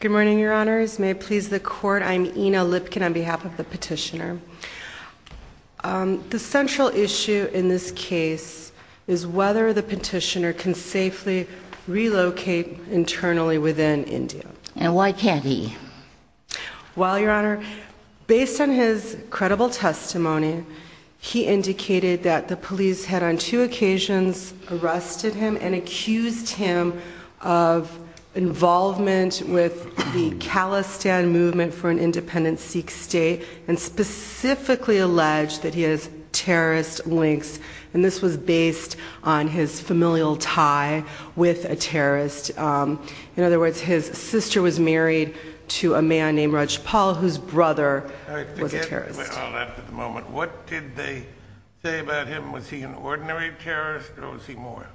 Good morning, Your Honors. May it please the Court, I'm Ina Lipkin on behalf of the petitioner. The central issue in this case is whether the petitioner can safely relocate internally within India. And why can't he? Well, Your Honor, based on his credible testimony, he with the Khalistan Movement for an Independent Sikh State, and specifically alleged that he has terrorist links. And this was based on his familial tie with a terrorist. In other words, his sister was married to a man named Rajpal, whose brother was a terrorist. I forget all that at the moment. What did they say about him? Was he an ordinary terrorist, or was he more?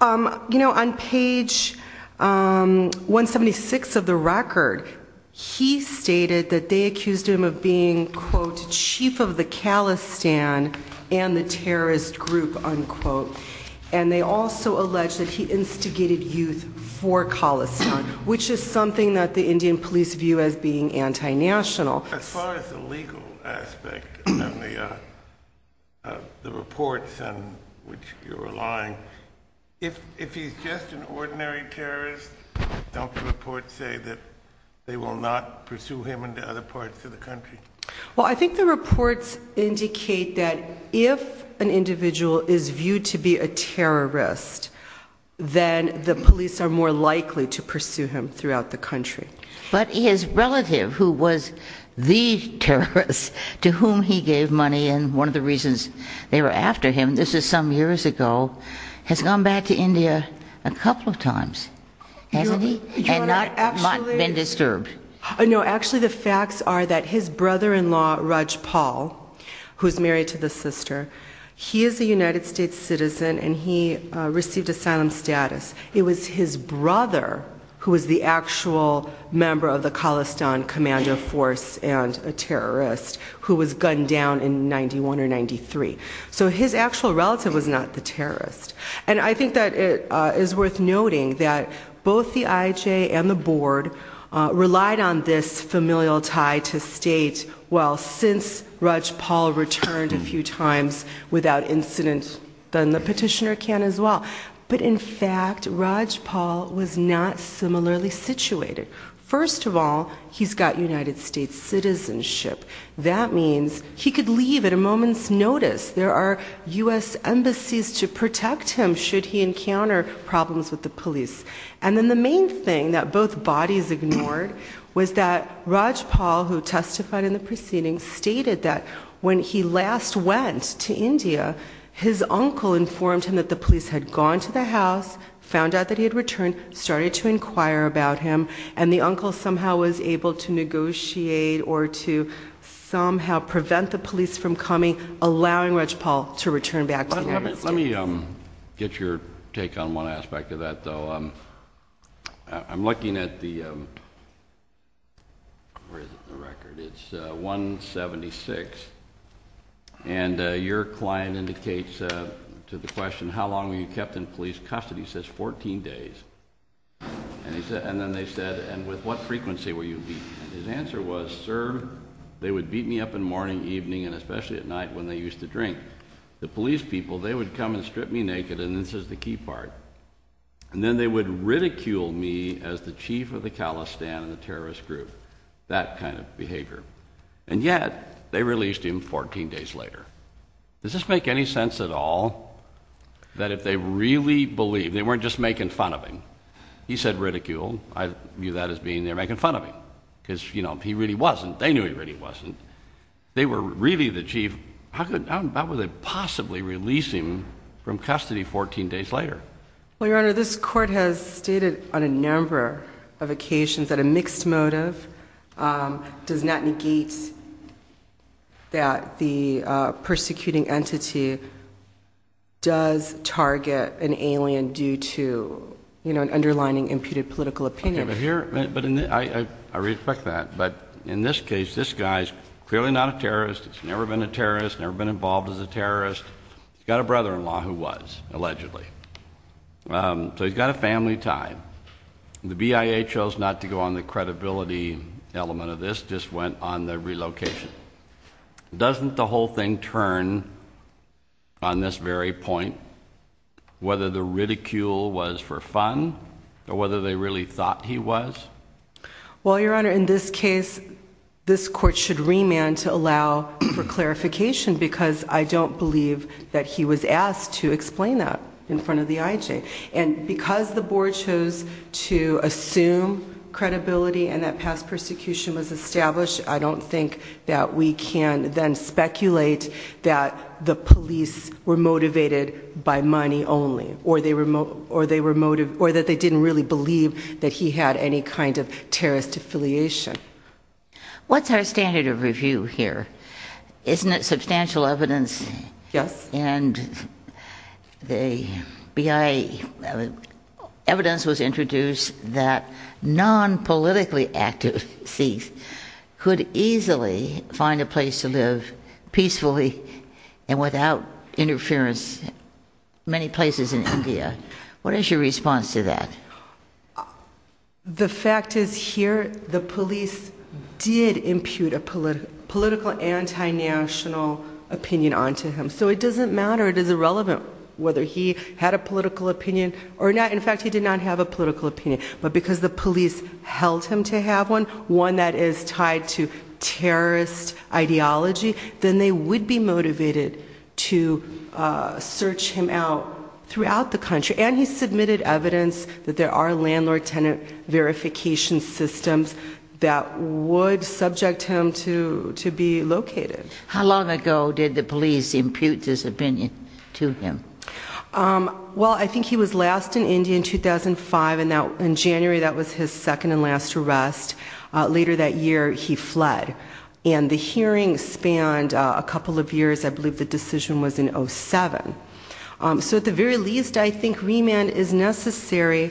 You know, on page 176 of the record, he stated that they accused him of being, quote, chief of the Khalistan and the terrorist group, unquote. And they also alleged that he instigated youth for Khalistan, which is something that the Indian police view as being anti-national. As far as the legal aspect of the reports, and which he was lying, if he's just an ordinary terrorist, don't the reports say that they will not pursue him into other parts of the country? Well, I think the reports indicate that if an individual is viewed to be a terrorist, then the police are more likely to pursue him throughout the country. But his relative, who was the terrorist, to whom he gave money, and one of the reasons they were after him, this is some years ago, has gone back to India a couple of times, hasn't he? And not been disturbed. No, actually the facts are that his brother-in-law, Rajpal, who's married to the sister, he is a United States citizen, and he received asylum status. It was his brother who was the actual member of the Khalistan commando force and a terrorist who was gunned down in 91 or 93. So his actual relative was not the terrorist. And I think that it is worth noting that both the IJ and the board relied on this familial tie to state, well since Rajpal returned a few times without incident, then the petitioner can as well. But in fact, Rajpal was not similarly situated. First of all, he's got United States citizenship that means he could leave at a moment's notice. There are U.S. embassies to protect him should he encounter problems with the police. And then the main thing that both bodies ignored was that Rajpal, who testified in the proceedings, stated that when he last went to India, his uncle informed him that the police had gone to the house, found out that he had returned, started to inquire about him, and the uncle somehow was able to negotiate or to somehow prevent the police from coming, allowing Rajpal to return back to the United States. Let me get your take on one aspect of that though. I'm looking at the, where is it in the record, it's 176, and your client indicates to the question, how long were you kept in police custody? He says 14 days. And then they said, and with what frequency were you beaten? And his answer was, sir, they would beat me up in the morning, evening, and especially at night when they used to drink. The police people, they would come and strip me naked, and this is the key part. And then they would ridicule me as the chief of the calistan and the terrorist group. That kind of behavior. And yet, they released him 14 days later. Does this make any sense at all, that if they really believed, they weren't just making fun of him, he said ridiculed, I view that as being, they're making fun of him. Because you know, he really wasn't, they knew he really wasn't. They were really the chief, how could, how would they possibly release him from custody 14 days later? Well your honor, this court has stated on a number of occasions that a mixed motive does not negate that the persecuting entity does target an alien due to, you know, an underlining imputed political opinion. Okay, but here, I respect that, but in this case, this guy's clearly not a terrorist, he's never been a terrorist, never been involved as a terrorist, he's got a brother-in-law who was, allegedly. So he's got a family tie. The BIA chose not to go on the credibility element of this, just went on the relocation. Doesn't the whole thing turn on this very point, whether the ridicule was for fun, or whether they really thought he was? Well your honor, in this case, this court should remand to allow for clarification because I don't believe that he was asked to explain that in front of the IJ. And because the board chose to assume credibility and that past persecution was established, I don't think that we can then speculate that the police were motivated by money only. Or that they didn't really believe that he had any kind of terrorist affiliation. What's our standard of review here? Isn't it substantial evidence? Yes. And the BIA, evidence was introduced that non-politically active Sikhs could easily find a place to live peacefully and without interference in many places in India. What is your response to that? The fact is here, the police did impute a political anti-national opinion onto him. So it doesn't matter, it is irrelevant whether he had a political opinion or not. In fact he did not have a political opinion. But because the police held him to have one, one that is tied to terrorist ideology, then they would be motivated to search him out throughout the country. And he submitted evidence that there are landlord-tenant verification systems that would subject him to be located. How long ago did the police impute this opinion to him? Well I think he was last in India in 2005. In January that was his second and last arrest. Later that year he fled. And the hearing spanned a couple of years. I believe the decision was in 07. So at the very least I think remand is necessary.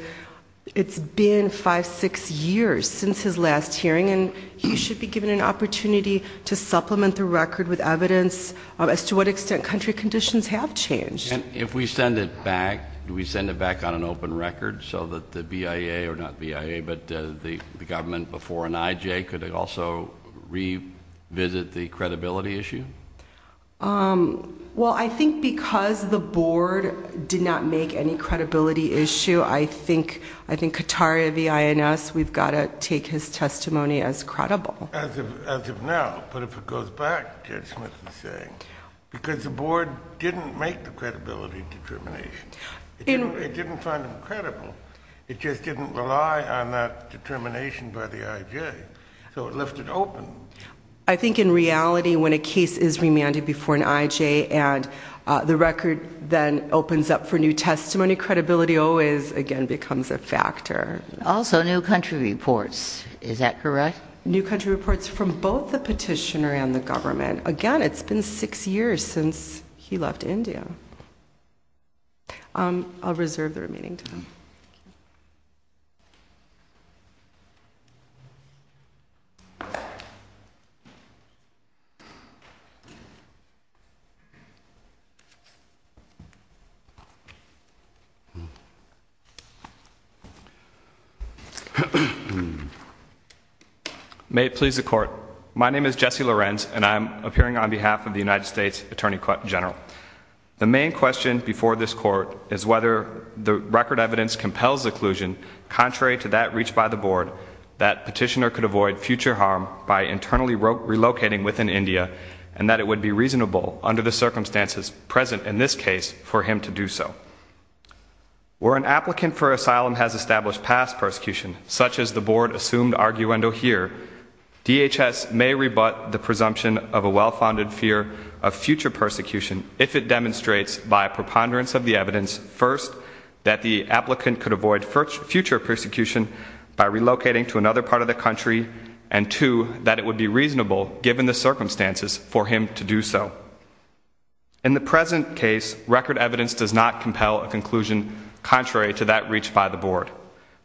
It's been five, six years since his last hearing. And he should be given an opportunity to supplement the record with evidence as to what extent country conditions have changed. If we send it back, do we send it back on an open record so that the BIA, or not BIA, but the government before NIJ could also revisit the credibility issue? Well I think because the board did not make any credibility issue, I think Kataria, BINS, we've got to take his testimony as credible. As of now, but if it goes back, Judge Smith is saying, because the board didn't make the credibility determination. It didn't find him credible. It just didn't rely on that determination by the IJ. So it left it open. I think in reality when a case is remanded before an IJ and the record then opens up for new testimony, credibility always again becomes a factor. Also new country reports. Is that correct? New country reports from both the petitioner and the government. Again, it's been six years since he left India. I'll reserve the remaining time. May it please the court. My name is Jesse Lorenz and I'm appearing on behalf of the United States Attorney General. The main question before this court is whether the record evidence compels the collusion, contrary to that reached by the board, that petitioner could avoid future harm by internally relocating within India and that it would be reasonable under the circumstances present in this case for him to do so. Where an applicant for asylum has established past persecution, such as the board assumed arguendo here, DHS may rebut the presumption of a well-founded fear of future persecution if it demonstrates by preponderance of the evidence, first, that the applicant could avoid future persecution by relocating to another part of the country, and two, that it would be reasonable, given the circumstances, for him to do so. In the present case, record evidence does not compel a conclusion contrary to that reached by the board.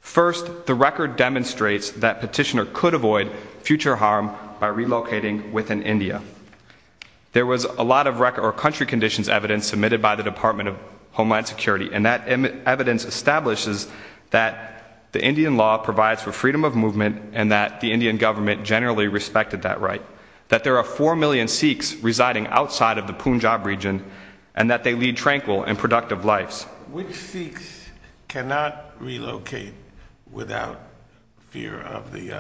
First, the record demonstrates that petitioner could avoid future harm by relocating within India. There was a lot of record or country conditions evidence submitted by the Department of Homeland Security and that evidence establishes that the Indian law provides for freedom of movement and that the Indian government generally respected that right, that there are four million Sikhs residing outside of the Punjab region and that they lead tranquil and productive lives. Which Sikhs cannot relocate without fear of the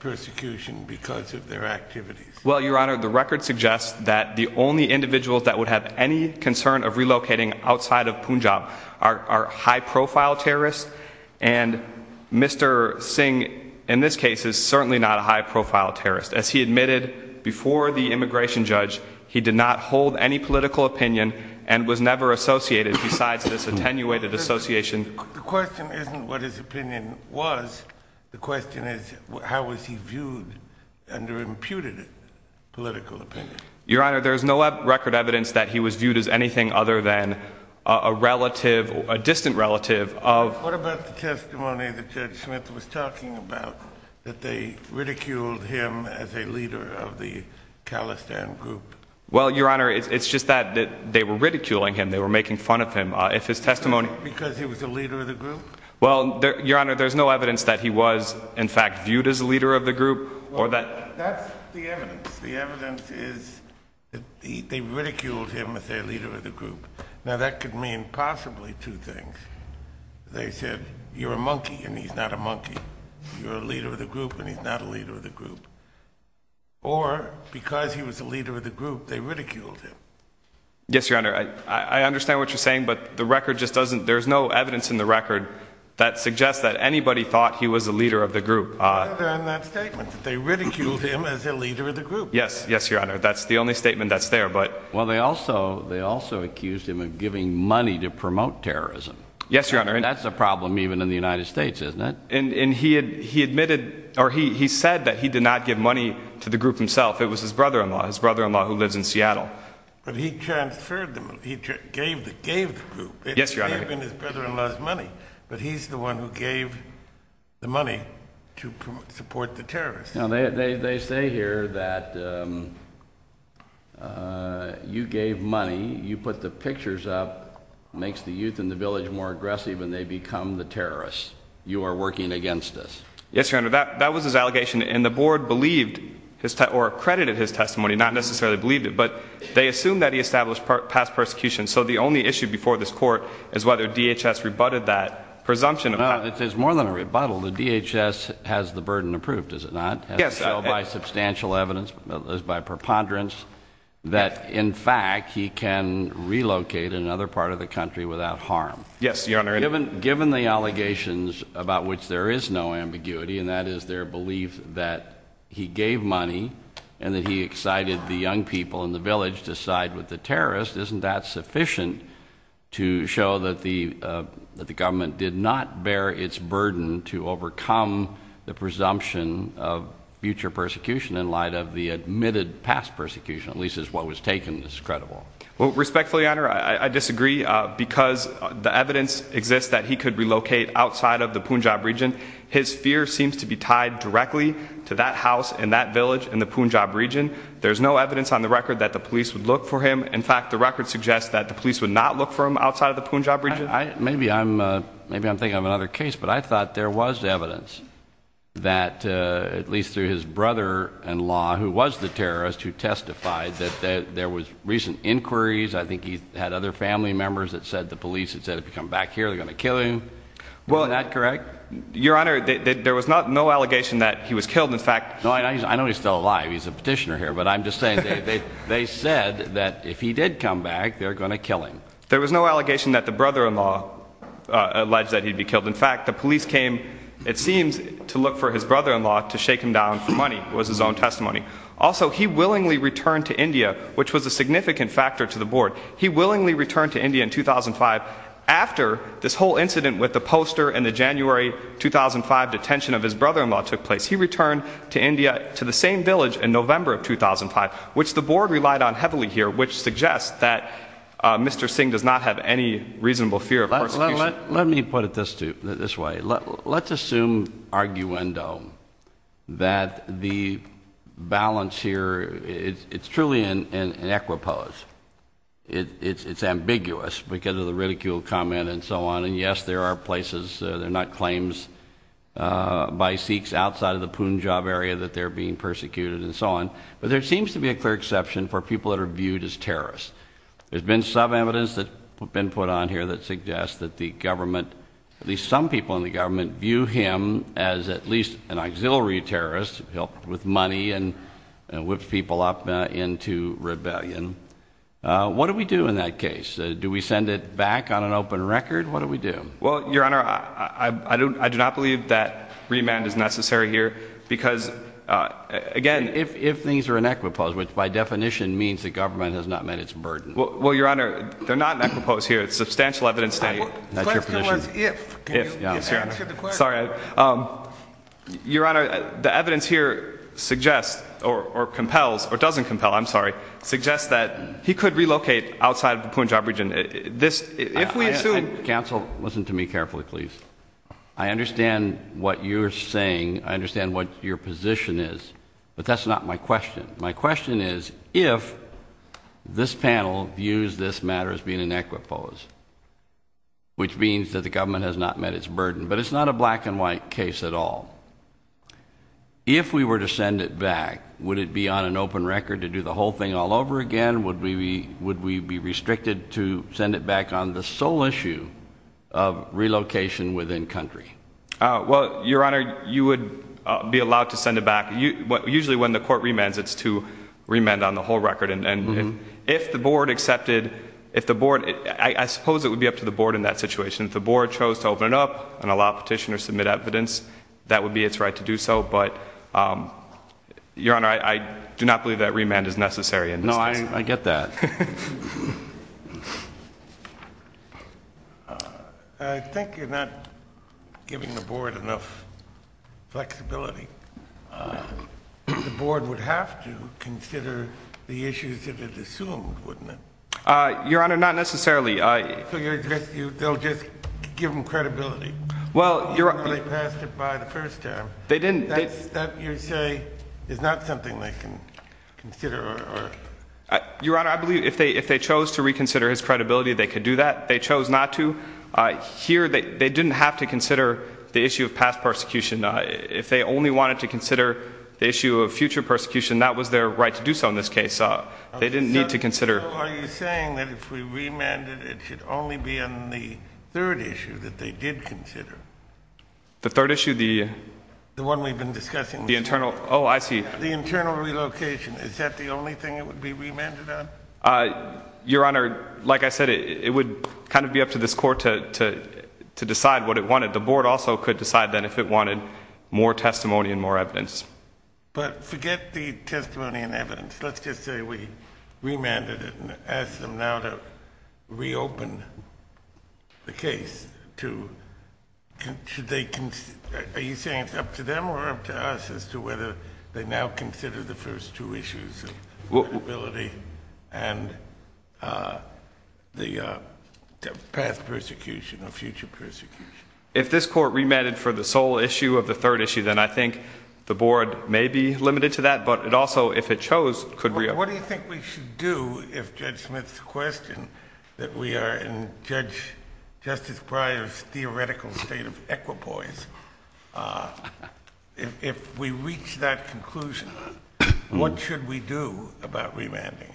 persecution because of their activities? Well, Your Honor, the record suggests that the only individuals that would have any concern of relocating outside of Punjab are high-profile terrorists and Mr. Singh in this case is certainly not a high-profile terrorist. As he admitted before the immigration judge, he did not hold any political opinion and was never associated besides this attenuated association. The question isn't what his opinion was, the question is how was he viewed under imputed political opinion? Your Honor, there is no record evidence that he was viewed as anything other than a relative, a distant relative of... What about the testimony that Judge Smith was talking about, that they ridiculed him as a leader of the Khalistan group? Well, Your Honor, it's just that they were ridiculing him, they were making fun of him. If his testimony... Because he was a leader of the group? Well, Your Honor, there's no evidence that he was in fact viewed as a leader of the group or that... That's the evidence. The evidence is that they ridiculed him as a leader of the group. Now that could mean possibly two things. They said, you're a monkey and he's not a monkey. You're a leader of the group and he's not a leader of the group. Or, because he was a leader of the group, they ridiculed him. Yes, Your Honor, I understand what you're saying, but the record just doesn't... There's no evidence in the record that suggests that anybody thought he was a leader of the group. Other than that statement that they ridiculed him as a leader of the group. Yes, yes, Your Honor, that's the only statement that's there, but... Well, they also accused him of giving money to promote terrorism. Yes, Your Honor. And that's a problem even in the United States, isn't it? And he admitted, or he said that he did not give money to the group himself. It was his brother-in-law, his brother-in-law who lives in Seattle. But he transferred the money. He gave the group, even his brother-in-law's money. But he's the one who gave the money to support the terrorists. They say here that you gave money, you put the pictures up, makes the youth in the village more aggressive, and they become the terrorists. You are working against us. Yes, Your Honor, that was his allegation, and the board believed his testimony, or accredited his testimony, not necessarily believed it, but they assume that he established past persecution. So the only issue before this court is whether DHS rebutted that presumption. It's more than a rebuttal. The DHS has the burden approved, has it not? Yes. By substantial evidence, by preponderance, that in fact he can relocate in another part of the country without harm. Yes, Your Honor. Given the allegations about which there is no ambiguity, and that is their belief that he gave money and that he excited the young people in the village to side with the terrorists, isn't that sufficient to show that the government did not bear its burden to overcome the presumption of future persecution in light of the admitted past persecution, at least is what was taken as credible? Well, respectfully, Your Honor, I disagree because the evidence exists that he could relocate outside of the Punjab region. His fear seems to be tied directly to that house in that village in the Punjab region. There's no evidence on the record that the police would look for him. In fact, the record suggests that the police would not look for him outside of the Punjab region. Maybe I'm thinking of another case, but I thought there was evidence that, at least through his brother-in-law, who was the terrorist, who testified that there was recent inquiries. I think he had other family members that said the police had said, if you come back here, they're going to kill him. Is that correct? Your Honor, there was no allegation that he was killed. In fact— No, I know he's still alive. He's a petitioner here. But I'm just saying, they said that if he did come back, they're going to kill him. There was no allegation that the brother-in-law alleged that he'd be killed. In fact, the police came, it seems, to look for his brother-in-law to shake him down for money, was his own testimony. Also, he willingly returned to India, which was a significant factor to the board. He willingly returned to India in 2005 after this whole incident with the poster and the media, to the same village in November of 2005, which the board relied on heavily here, which suggests that Mr. Singh does not have any reasonable fear of persecution. Let me put it this way. Let's assume, arguendo, that the balance here, it's truly an equipose. It's ambiguous because of the ridicule, comment, and so on. And yes, there are places, they're by Sikhs outside of the Punjab area that they're being persecuted and so on. But there seems to be a clear exception for people that are viewed as terrorists. There's been some evidence that's been put on here that suggests that the government, at least some people in the government, view him as at least an auxiliary terrorist, helped with money and whipped people up into rebellion. What do we do in that case? Do we send it back on an open record? What do we do? Well, Your Honor, I do not believe that remand is necessary here. Because, again- If things are an equipose, which by definition means the government has not met its burden. Well, Your Honor, they're not an equipose here. It's substantial evidence that- I was glad there was if, can you answer the question? Sorry. Your Honor, the evidence here suggests, or compels, or doesn't compel, I'm sorry, suggests that he could relocate outside of the Punjab region. If we assume- Counsel, listen to me carefully, please. I understand what you're saying. I understand what your position is. But that's not my question. My question is, if this panel views this matter as being an equipose, which means that the government has not met its burden. But it's not a black and white case at all. If we were to send it back, would it be on an open record to do the whole thing all over again? Would we be restricted to send it back on the sole issue of relocation within country? Well, Your Honor, you would be allowed to send it back. Usually when the court remands, it's to remand on the whole record. And if the board accepted- I suppose it would be up to the board in that situation. If the board chose to open it up and allow petitioners to submit evidence, that would be its right to do so. But, Your Honor, I do not believe that remand is necessary in this case. No, I get that. I think you're not giving the board enough flexibility. The board would have to consider the issues that it assumed, wouldn't it? Your Honor, not necessarily. So they'll just give them credibility? Well- They passed it by the first term. They didn't- That, you say, is not something they can consider? Your Honor, I believe if they chose to reconsider his credibility, they could do that. If they chose not to, here they didn't have to consider the issue of past persecution. If they only wanted to consider the issue of future persecution, that was their right to do so in this case. They didn't need to consider- So are you saying that if we remanded, it should only be on the third issue that they did consider? The third issue? The one we've been discussing. The internal- Oh, I see. The internal relocation. Is that the only thing it would be remanded on? Your Honor, like I said, it would kind of be up to this court to decide what it wanted. The board also could decide then if it wanted more testimony and more evidence. But forget the testimony and evidence. Let's just say we remanded it and asked them now to reopen the case. Are you saying it's up to them or up to us as to whether they now consider the first two issues of credibility and the past persecution or future persecution? If this court remanded for the sole issue of the third issue, then I think the board may be limited to that, but it also, if it chose, could reopen. What do you think we should do if Judge Smith's question that we are in Justice Breyer's theoretical state of equipoise, if we reach that conclusion, what should we do about remanding?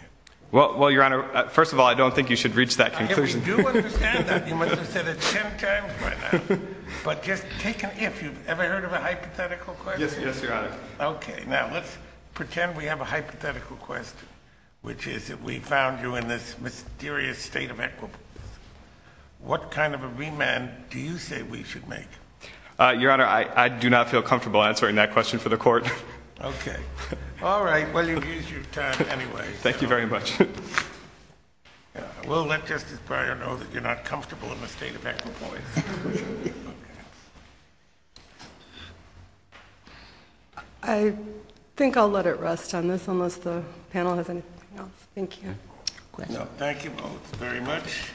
Well, Your Honor, first of all, I don't think you should reach that conclusion. If we do understand that, you must have said it ten times by now. But just take an if. Have you ever heard of a hypothetical question? Yes, Your Honor. Okay. Now, let's pretend we have a hypothetical question, which is that we found you in this mysterious state of equipoise. What kind of a remand do you say we should make? Your Honor, I do not feel comfortable answering that question for the court. Okay. All right. Well, you've used your time anyway. Thank you very much. We'll let Justice Breyer know that you're not comfortable in the state of equipoise. I think I'll let it rest on this, unless the panel has anything else. Thank you. Thank you both very much.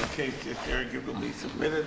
The case is arguably submitted.